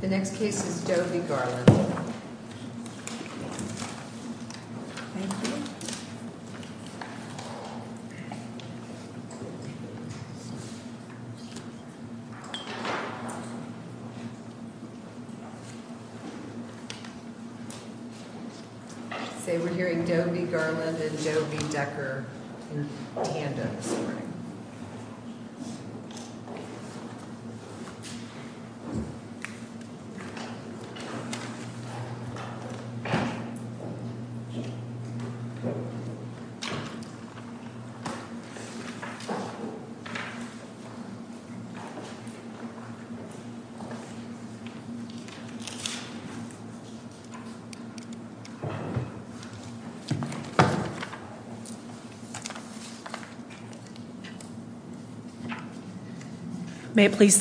The next case is Doe v. Garland. We're hearing Doe v. Garland and Doe v. Decker in tandem this morning. Thank you.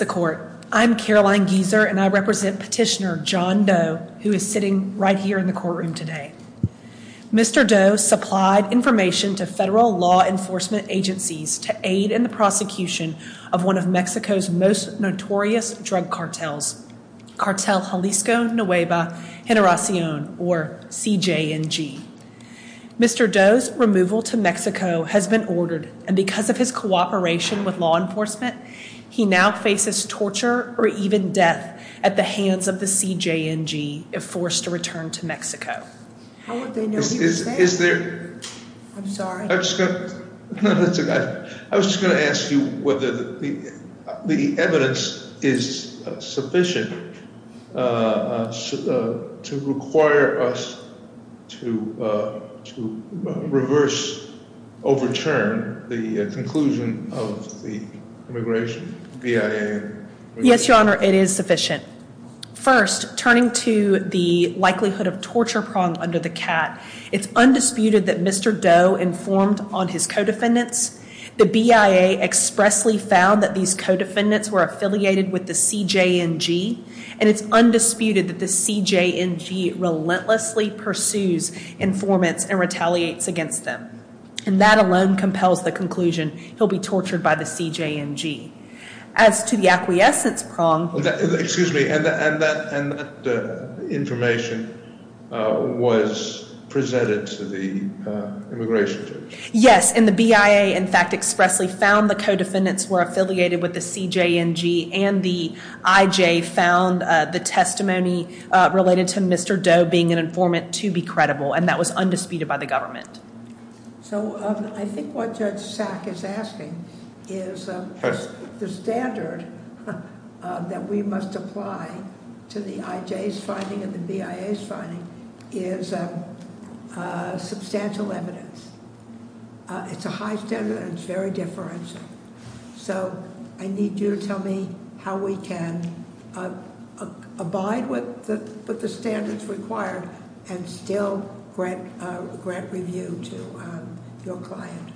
I present petitioner John Doe, who is sitting right here in the courtroom today. Mr. Doe supplied information to federal law enforcement agencies to aid in the prosecution of one of Mexico's most notorious drug cartels, Cartel Jalisco Nueva Generacion, or CJNG. Mr. Doe's removal to Mexico has been ordered, and because of his cooperation with law enforcement, he now faces torture or even death at the hands of the CJNG if forced to return to Mexico. How would they know he was there? I'm sorry. I was just going to ask you whether the evidence is sufficient to require us to reverse, overturn the conclusion of the immigration BIA. Yes, Your Honor, it is sufficient. First, turning to the likelihood of torture prong under the CAT, it's undisputed that Mr. Doe informed on his co-defendants. The BIA expressly found that these co-defendants were affiliated with the CJNG, and it's undisputed that the CJNG relentlessly pursues informants and retaliates against them. And that alone compels the conclusion he'll be tortured by the CJNG. As to the acquiescence prong... Excuse me, and that information was presented to the immigration judge? Yes, and the BIA in fact expressly found the co-defendants were affiliated with the CJNG, and the IJ found the testimony related to Mr. Doe being an informant to be credible, and that was undisputed by the government. So I think what Judge Sack is asking is the standard that we must apply to the IJ's finding and the BIA's finding is substantial evidence. It's a high standard and it's very differential. So I need you to tell me how we can abide with the standards required and still grant review to your client.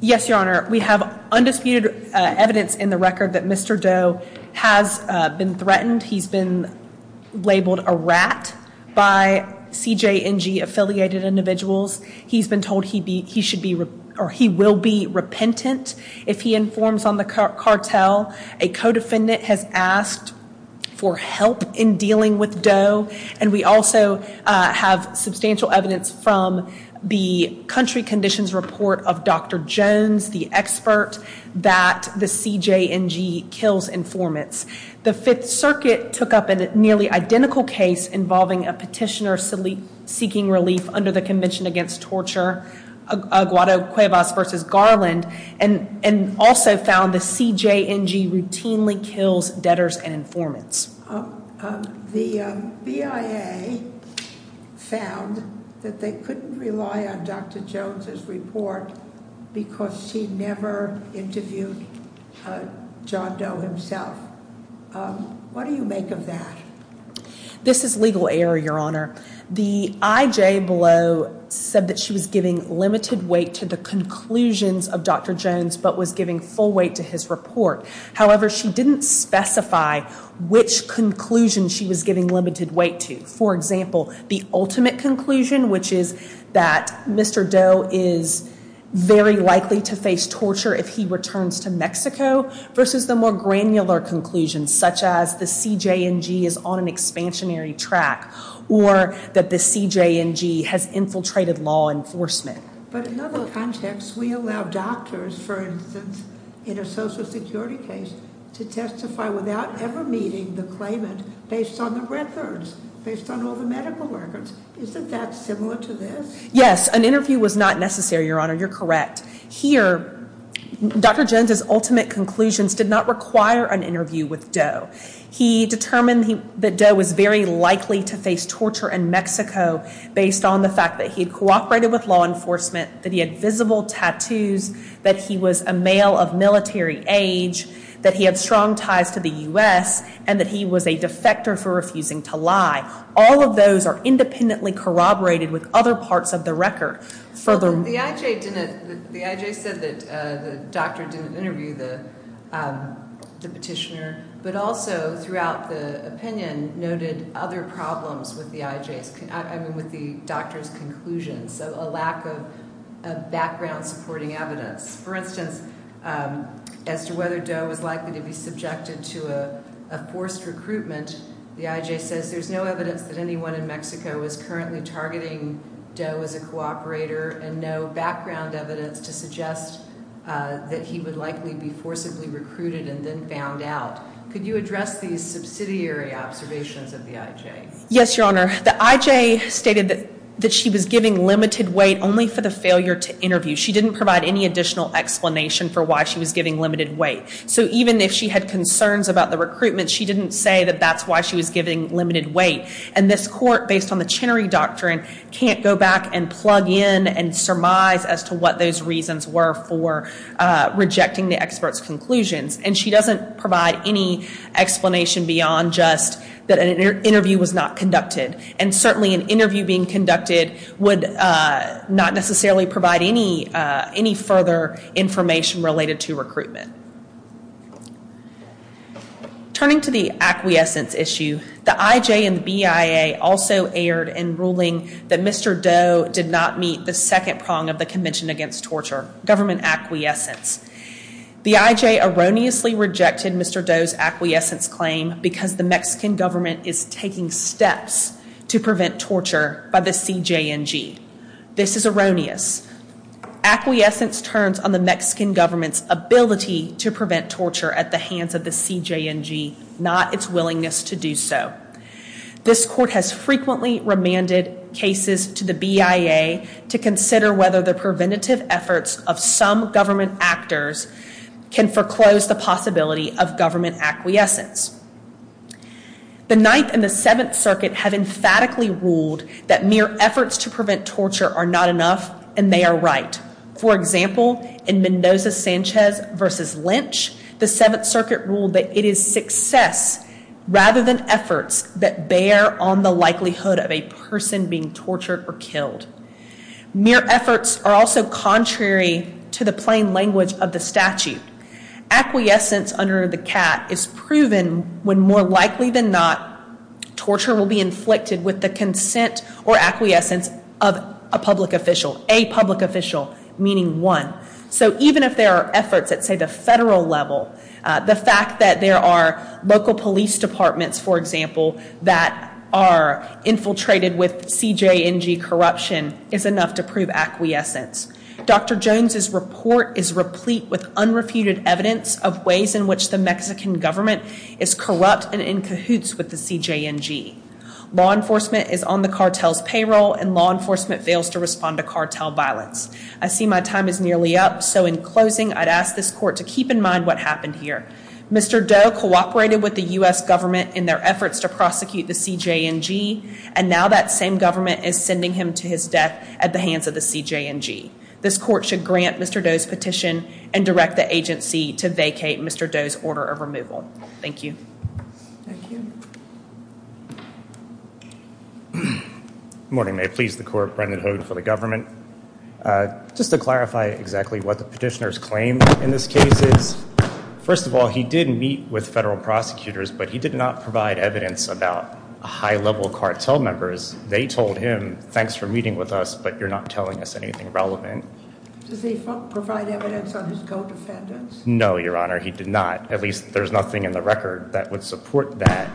Yes, Your Honor, we have undisputed evidence in the record that Mr. Doe has been threatened. He's been labeled a rat by CJNG-affiliated individuals. He's been told he should be or he will be repentant if he informs on the cartel. A co-defendant has asked for help in dealing with Doe, and we also have substantial evidence from the country conditions report of Dr. Jones, the expert that the CJNG kills informants. The Fifth Circuit took up a nearly identical case involving a petitioner seeking relief under the Convention Against Torture, Aguado Cuevas v. Garland, and also found the CJNG routinely kills debtors and informants. The BIA found that they couldn't rely on Dr. Jones' report because she never interviewed John Doe himself. What do you make of that? This is legal error, Your Honor. The IJ below said that she was giving limited weight to the conclusions of Dr. Jones but was giving full weight to his report. However, she didn't specify which conclusion she was giving limited weight to. For example, the ultimate conclusion, which is that Mr. Doe is very likely to face torture if he returns to Mexico, versus the more granular conclusions, such as the CJNG is on an expansionary track or that the CJNG has infiltrated law enforcement. But in other contexts, we allow doctors, for instance, in a Social Security case, to testify without ever meeting the claimant based on the records, based on all the medical records. Isn't that similar to this? Yes. An interview was not necessary, Your Honor. You're correct. Here, Dr. Jones' ultimate conclusions did not require an interview with Doe. He determined that Doe was very likely to face torture in Mexico based on the fact that he had cooperated with law enforcement, that he had visible tattoos, that he was a male of military age, that he had strong ties to the U.S., and that he was a defector for refusing to lie. All of those are independently corroborated with other parts of the record. The IJ said that the doctor didn't interview the petitioner, but also throughout the opinion noted other problems with the IJ's, I mean, with the doctor's conclusions, so a lack of background-supporting evidence. For instance, as to whether Doe was likely to be subjected to a forced recruitment, the IJ says there's no evidence that anyone in Mexico was currently targeting Doe as a cooperator and no background evidence to suggest that he would likely be forcibly recruited and then found out. Could you address these subsidiary observations of the IJ? Yes, Your Honor. The IJ stated that she was giving limited weight only for the failure to interview. She didn't provide any additional explanation for why she was giving limited weight. So even if she had concerns about the recruitment, she didn't say that that's why she was giving limited weight. And this court, based on the Chenery Doctrine, can't go back and plug in and surmise as to what those reasons were for rejecting the expert's conclusions. And she doesn't provide any explanation beyond just that an interview was not conducted. And certainly an interview being conducted would not necessarily provide any further information related to recruitment. Turning to the acquiescence issue, the IJ and BIA also erred in ruling that Mr. Doe did not meet the second prong of the Convention Against Torture, government acquiescence. The IJ erroneously rejected Mr. Doe's acquiescence claim because the Mexican government is taking steps to prevent torture by the CJNG. This is erroneous. Acquiescence turns on the Mexican government's ability to prevent torture at the hands of the CJNG, not its willingness to do so. This court has frequently remanded cases to the BIA to consider whether the preventative efforts of some government actors can foreclose the possibility of government acquiescence. The Ninth and the Seventh Circuit have emphatically ruled that mere efforts to prevent torture are not enough and they are right. For example, in Mendoza-Sanchez v. Lynch, the Seventh Circuit ruled that it is success rather than efforts that bear on the likelihood of a person being tortured or killed. Mere efforts are also contrary to the plain language of the statute. Acquiescence under the CAT is proven when, more likely than not, torture will be inflicted with the consent or acquiescence of a public official, a public official meaning one. So even if there are efforts at, say, the federal level, the fact that there are local police departments, for example, that are infiltrated with CJNG corruption is enough to prove acquiescence. Dr. Jones's report is replete with unrefuted evidence of ways in which the Mexican government is corrupt and in cahoots with the CJNG. Law enforcement is on the cartel's payroll and law enforcement fails to respond to cartel violence. I see my time is nearly up, so in closing I'd ask this court to keep in mind what happened here. Mr. Doe cooperated with the U.S. government in their efforts to prosecute the CJNG and now that same government is sending him to his death at the hands of the CJNG. This court should grant Mr. Doe's petition and direct the agency to vacate Mr. Doe's order of removal. Thank you. Thank you. Good morning. May it please the Court. Brendan Hogan for the government. Just to clarify exactly what the petitioner's claim in this case is, First of all, he did meet with federal prosecutors, but he did not provide evidence about high-level cartel members. They told him, thanks for meeting with us, but you're not telling us anything relevant. Does he provide evidence on his co-defendants? No, Your Honor, he did not. At least there's nothing in the record that would support that.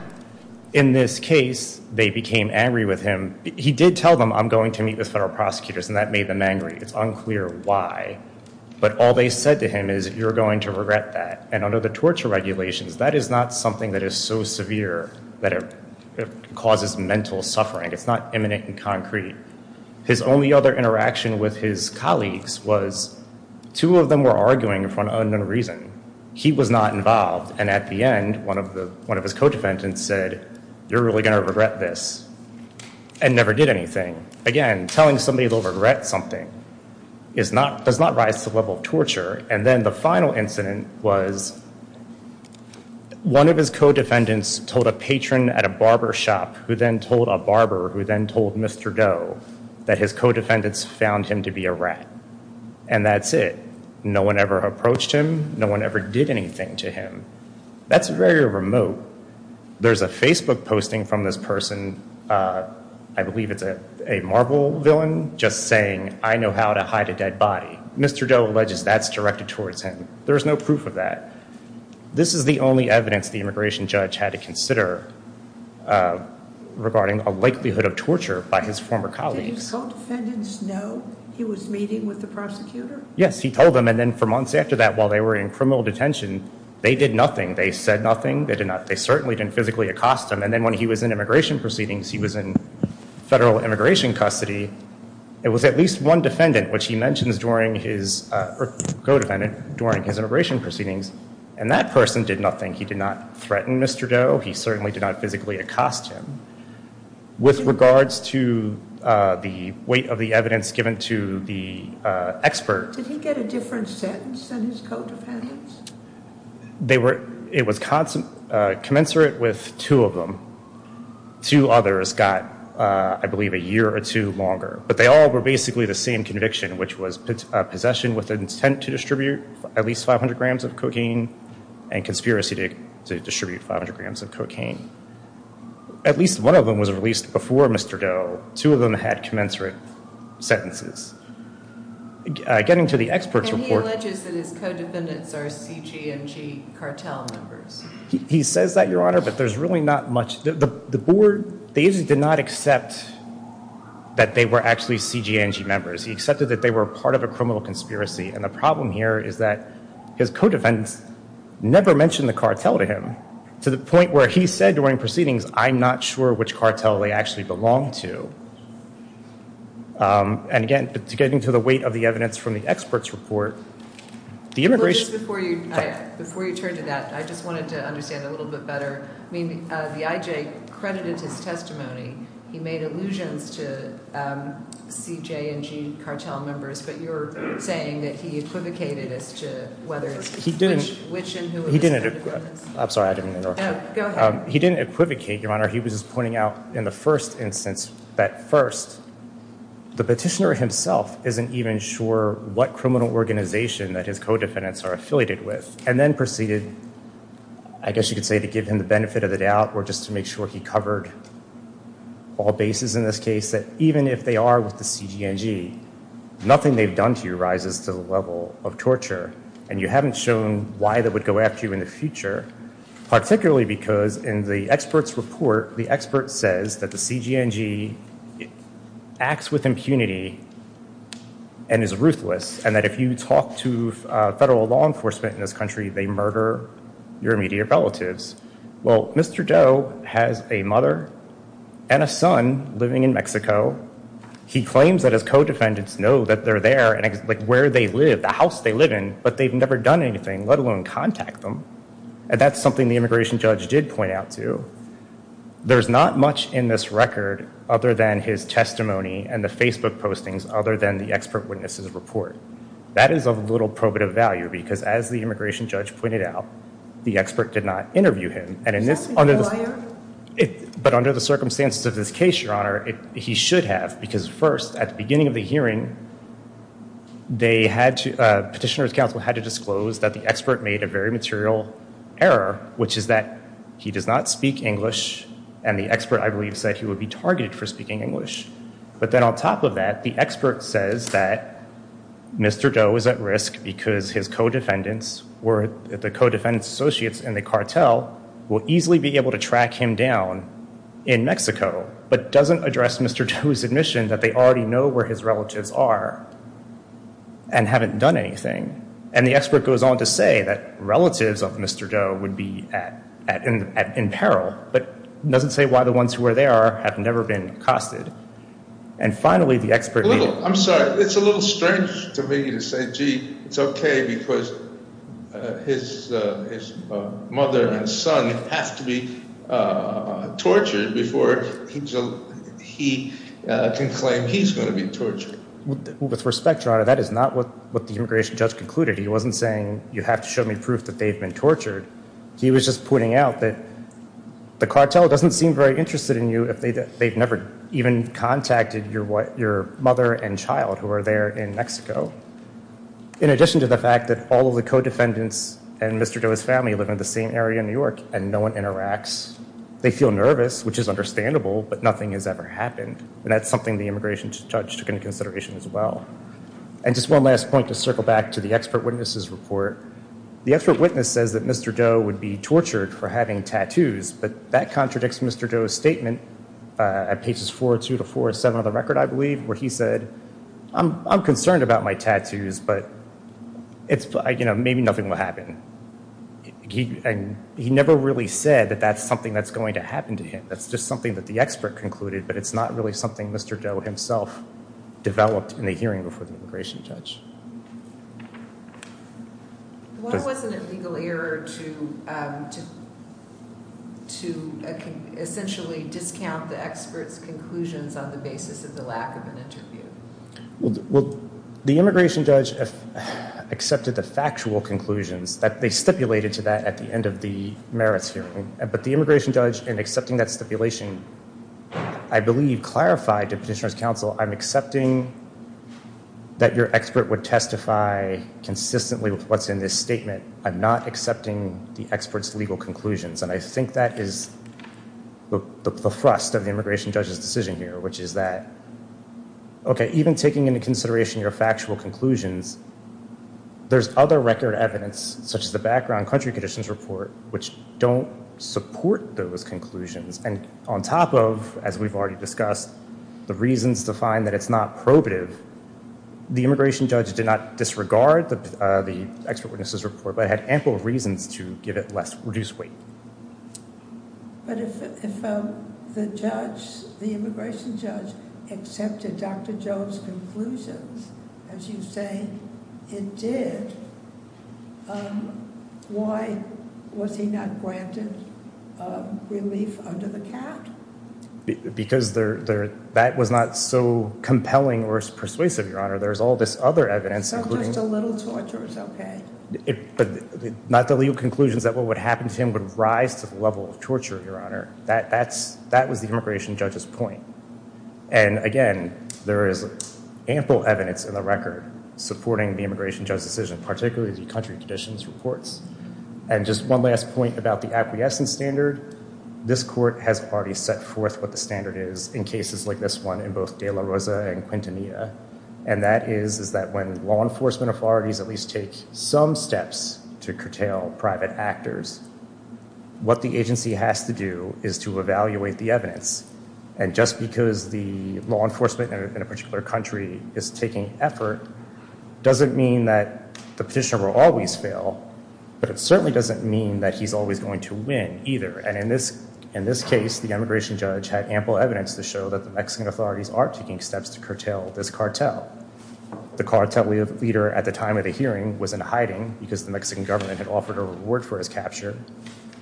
In this case, they became angry with him. He did tell them, I'm going to meet with federal prosecutors, and that made them angry. It's unclear why. But all they said to him is, you're going to regret that. And under the torture regulations, that is not something that is so severe that it causes mental suffering. It's not imminent and concrete. His only other interaction with his colleagues was two of them were arguing for an unknown reason. He was not involved. And at the end, one of his co-defendants said, you're really going to regret this. And never did anything. Again, telling somebody they'll regret something does not rise to the level of torture. And then the final incident was one of his co-defendants told a patron at a barber shop, who then told a barber, who then told Mr. Doe, that his co-defendants found him to be a rat. And that's it. No one ever approached him. No one ever did anything to him. That's very remote. There's a Facebook posting from this person, I believe it's a Marvel villain, just saying, I know how to hide a dead body. Mr. Doe alleges that's directed towards him. There's no proof of that. This is the only evidence the immigration judge had to consider regarding a likelihood of torture by his former colleagues. Did his co-defendants know he was meeting with the prosecutor? Yes, he told them. And then for months after that, while they were in criminal detention, they did nothing. They said nothing. They certainly didn't physically accost him. And then when he was in immigration proceedings, he was in federal immigration custody, it was at least one defendant, which he mentions during his, or co-defendant, during his immigration proceedings, and that person did nothing. He did not threaten Mr. Doe. He certainly did not physically accost him. With regards to the weight of the evidence given to the expert. Did he get a different sentence than his co-defendants? It was commensurate with two of them. Two others got, I believe, a year or two longer. But they all were basically the same conviction, which was possession with intent to distribute at least 500 grams of cocaine and conspiracy to distribute 500 grams of cocaine. At least one of them was released before Mr. Doe. Two of them had commensurate sentences. Getting to the expert's report. And he alleges that his co-defendants are CGMG cartel members. He says that, Your Honor, but there's really not much. The board, they did not accept that they were actually CGMG members. He accepted that they were part of a criminal conspiracy. And the problem here is that his co-defendants never mentioned the cartel to him, to the point where he said during proceedings, I'm not sure which cartel they actually belong to. And, again, getting to the weight of the evidence from the expert's report, the immigration. Before you turn to that, I just wanted to understand a little bit better. I mean, the IJ credited his testimony. He made allusions to CGMG cartel members, but you're saying that he equivocated as to whether it's which and who. He didn't. I'm sorry, I didn't mean to interrupt. Go ahead. He didn't equivocate, Your Honor. He was just pointing out in the first instance that first, the petitioner himself isn't even sure what criminal organization that his co-defendants are affiliated with. And then proceeded, I guess you could say to give him the benefit of the doubt or just to make sure he covered all bases in this case, that even if they are with the CGMG, nothing they've done to you rises to the level of torture. And you haven't shown why they would go after you in the future, particularly because in the expert's report, the expert says that the CGMG acts with impunity and is ruthless, and that if you talk to federal law enforcement in this country, they murder your immediate relatives. Well, Mr. Doe has a mother and a son living in Mexico. He claims that his co-defendants know that they're there and where they live, the house they live in, but they've never done anything, let alone contact them. And that's something the immigration judge did point out, too. There's not much in this record other than his testimony and the Facebook postings other than the expert witness's report. That is of little probative value because, as the immigration judge pointed out, the expert did not interview him. But under the circumstances of this case, Your Honor, he should have, because, first, at the beginning of the hearing, petitioner's counsel had to disclose that the expert made a very material error, which is that he does not speak English, and the expert, I believe, said he would be targeted for speaking English. But then on top of that, the expert says that Mr. Doe is at risk because his co-defendants, the co-defendants' associates in the cartel, will easily be able to track him down in Mexico, but doesn't address Mr. Doe's admission that they already know where his relatives are and haven't done anything. And the expert goes on to say that relatives of Mr. Doe would be in peril, but doesn't say why the ones who are there have never been accosted. And, finally, the expert needed- I'm sorry. It's a little strange to me to say, gee, it's okay, because his mother and son have to be tortured before he can claim he's going to be tortured. With respect, Your Honor, that is not what the immigration judge concluded. He wasn't saying you have to show me proof that they've been tortured. He was just pointing out that the cartel doesn't seem very interested in you if they've never even contacted your mother and child who are there in Mexico. In addition to the fact that all of the co-defendants and Mr. Doe's family live in the same area in New York and no one interacts, they feel nervous, which is understandable, but nothing has ever happened. And that's something the immigration judge took into consideration as well. And just one last point to circle back to the expert witness's report. The expert witness says that Mr. Doe would be tortured for having tattoos, but that contradicts Mr. Doe's statement at pages 4, 2 to 4, 7 of the record, I believe, where he said, I'm concerned about my tattoos, but maybe nothing will happen. He never really said that that's something that's going to happen to him. That's just something that the expert concluded, but it's not really something Mr. Doe himself developed in the hearing before the immigration judge. Why wasn't it legal error to essentially discount the expert's conclusions on the basis of the lack of an interview? Well, the immigration judge accepted the factual conclusions. They stipulated to that at the end of the merits hearing. But the immigration judge, in accepting that stipulation, I believe, clarified to Petitioner's Counsel, I'm accepting that your expert would testify consistently with what's in this statement. I'm not accepting the expert's legal conclusions. And I think that is the thrust of the immigration judge's decision here, which is that, okay, even taking into consideration your factual conclusions, there's other record evidence, such as the background country conditions report, which don't support those conclusions. And on top of, as we've already discussed, the reasons to find that it's not probative, the immigration judge did not disregard the expert witness's report, but had ample reasons to give it less reduced weight. But if the judge, the immigration judge, accepted Dr. Job's conclusions, as you say it did, why was he not granted relief under the cap? Because that was not so compelling or persuasive, Your Honor. There's all this other evidence. So just a little torture is okay. But not the legal conclusions that what would happen to him would rise to the level of torture, Your Honor. That was the immigration judge's point. And again, there is ample evidence in the record supporting the immigration judge's decision, particularly the country conditions reports. And just one last point about the acquiescence standard. This court has already set forth what the standard is in cases like this one in both De La Rosa and Quintanilla. And that is that when law enforcement authorities at least take some steps to curtail private actors, what the agency has to do is to evaluate the evidence. And just because the law enforcement in a particular country is taking effort doesn't mean that the petitioner will always fail. But it certainly doesn't mean that he's always going to win either. And in this case, the immigration judge had ample evidence to show that the Mexican authorities are taking steps to curtail this cartel. The cartel leader at the time of the hearing was in hiding because the Mexican government had offered a reward for his capture.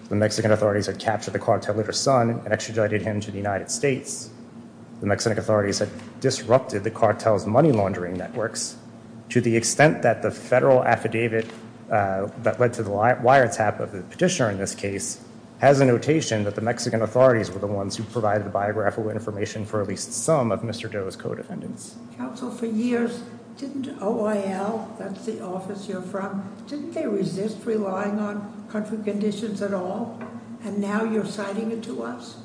The Mexican authorities had captured the cartel leader's son and extradited him to the United States. The Mexican authorities had disrupted the cartel's money laundering networks to the extent that the federal affidavit that led to the wiretap of the petitioner in this case has a notation that the Mexican authorities were the ones who provided the biographical information for at least some of Mr. Doe's co-defendants. Counsel, for years didn't OIL, that's the office you're from, didn't they resist relying on country conditions at all? And now you're citing it to us?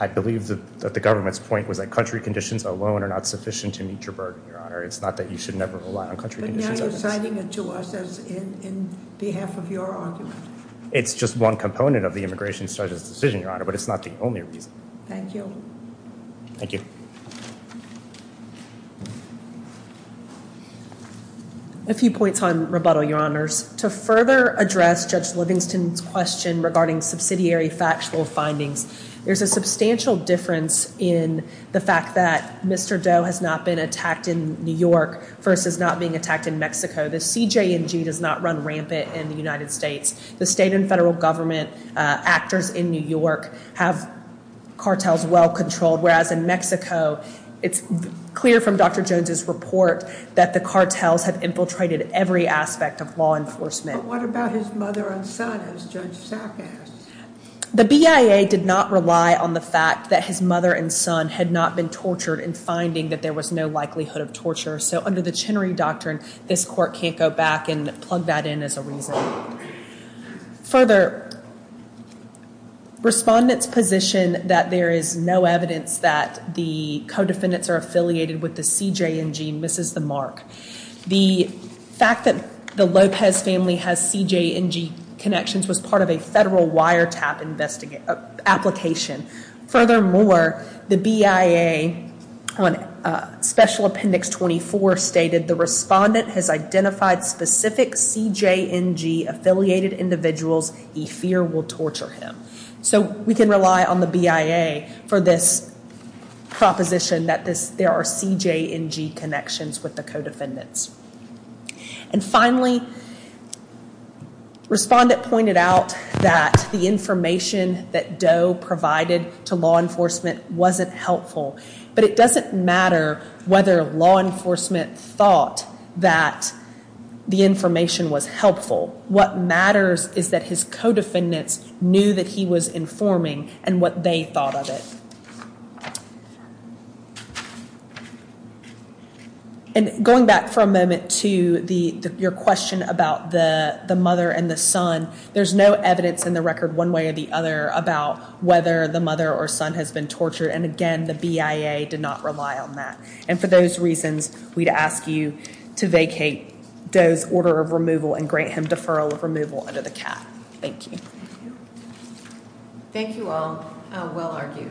I believe that the government's point was that country conditions alone are not sufficient to meet your burden, Your Honor. It's not that you should never rely on country conditions. But now you're citing it to us as in behalf of your argument. It's just one component of the immigration judge's decision, Your Honor, but it's not the only reason. Thank you. Thank you. A few points on rebuttal, Your Honors. To further address Judge Livingston's question regarding subsidiary factual findings, there's a substantial difference in the fact that Mr. Doe has not been attacked in New York versus not being attacked in Mexico. The CJNG does not run rampant in the United States. The state and federal government actors in New York have cartels well controlled, whereas in Mexico it's clear from Dr. Jones' report that the cartels have infiltrated every aspect of law enforcement. But what about his mother and son, as Judge Sack asked? The BIA did not rely on the fact that his mother and son had not been tortured in finding that there was no likelihood of torture. So under the Chenery Doctrine, this court can't go back and plug that in as a reason. Further, respondents position that there is no evidence that the co-defendants are affiliated with the CJNG misses the mark. The fact that the Lopez family has CJNG connections was part of a federal wiretap application. Furthermore, the BIA on Special Appendix 24 stated the respondent has identified specific CJNG affiliated individuals he fear will torture him. So we can rely on the BIA for this proposition that there are CJNG connections with the co-defendants. And finally, respondent pointed out that the information that Doe provided to law enforcement wasn't helpful. But it doesn't matter whether law enforcement thought that the information was helpful. What matters is that his co-defendants knew that he was informing and what they thought of it. And going back for a moment to your question about the mother and the son. There's no evidence in the record one way or the other about whether the mother or son has been tortured. And again, the BIA did not rely on that. And for those reasons, we'd ask you to vacate Doe's order of removal and grant him deferral of removal under the cap. Thank you. Thank you all. Well argued.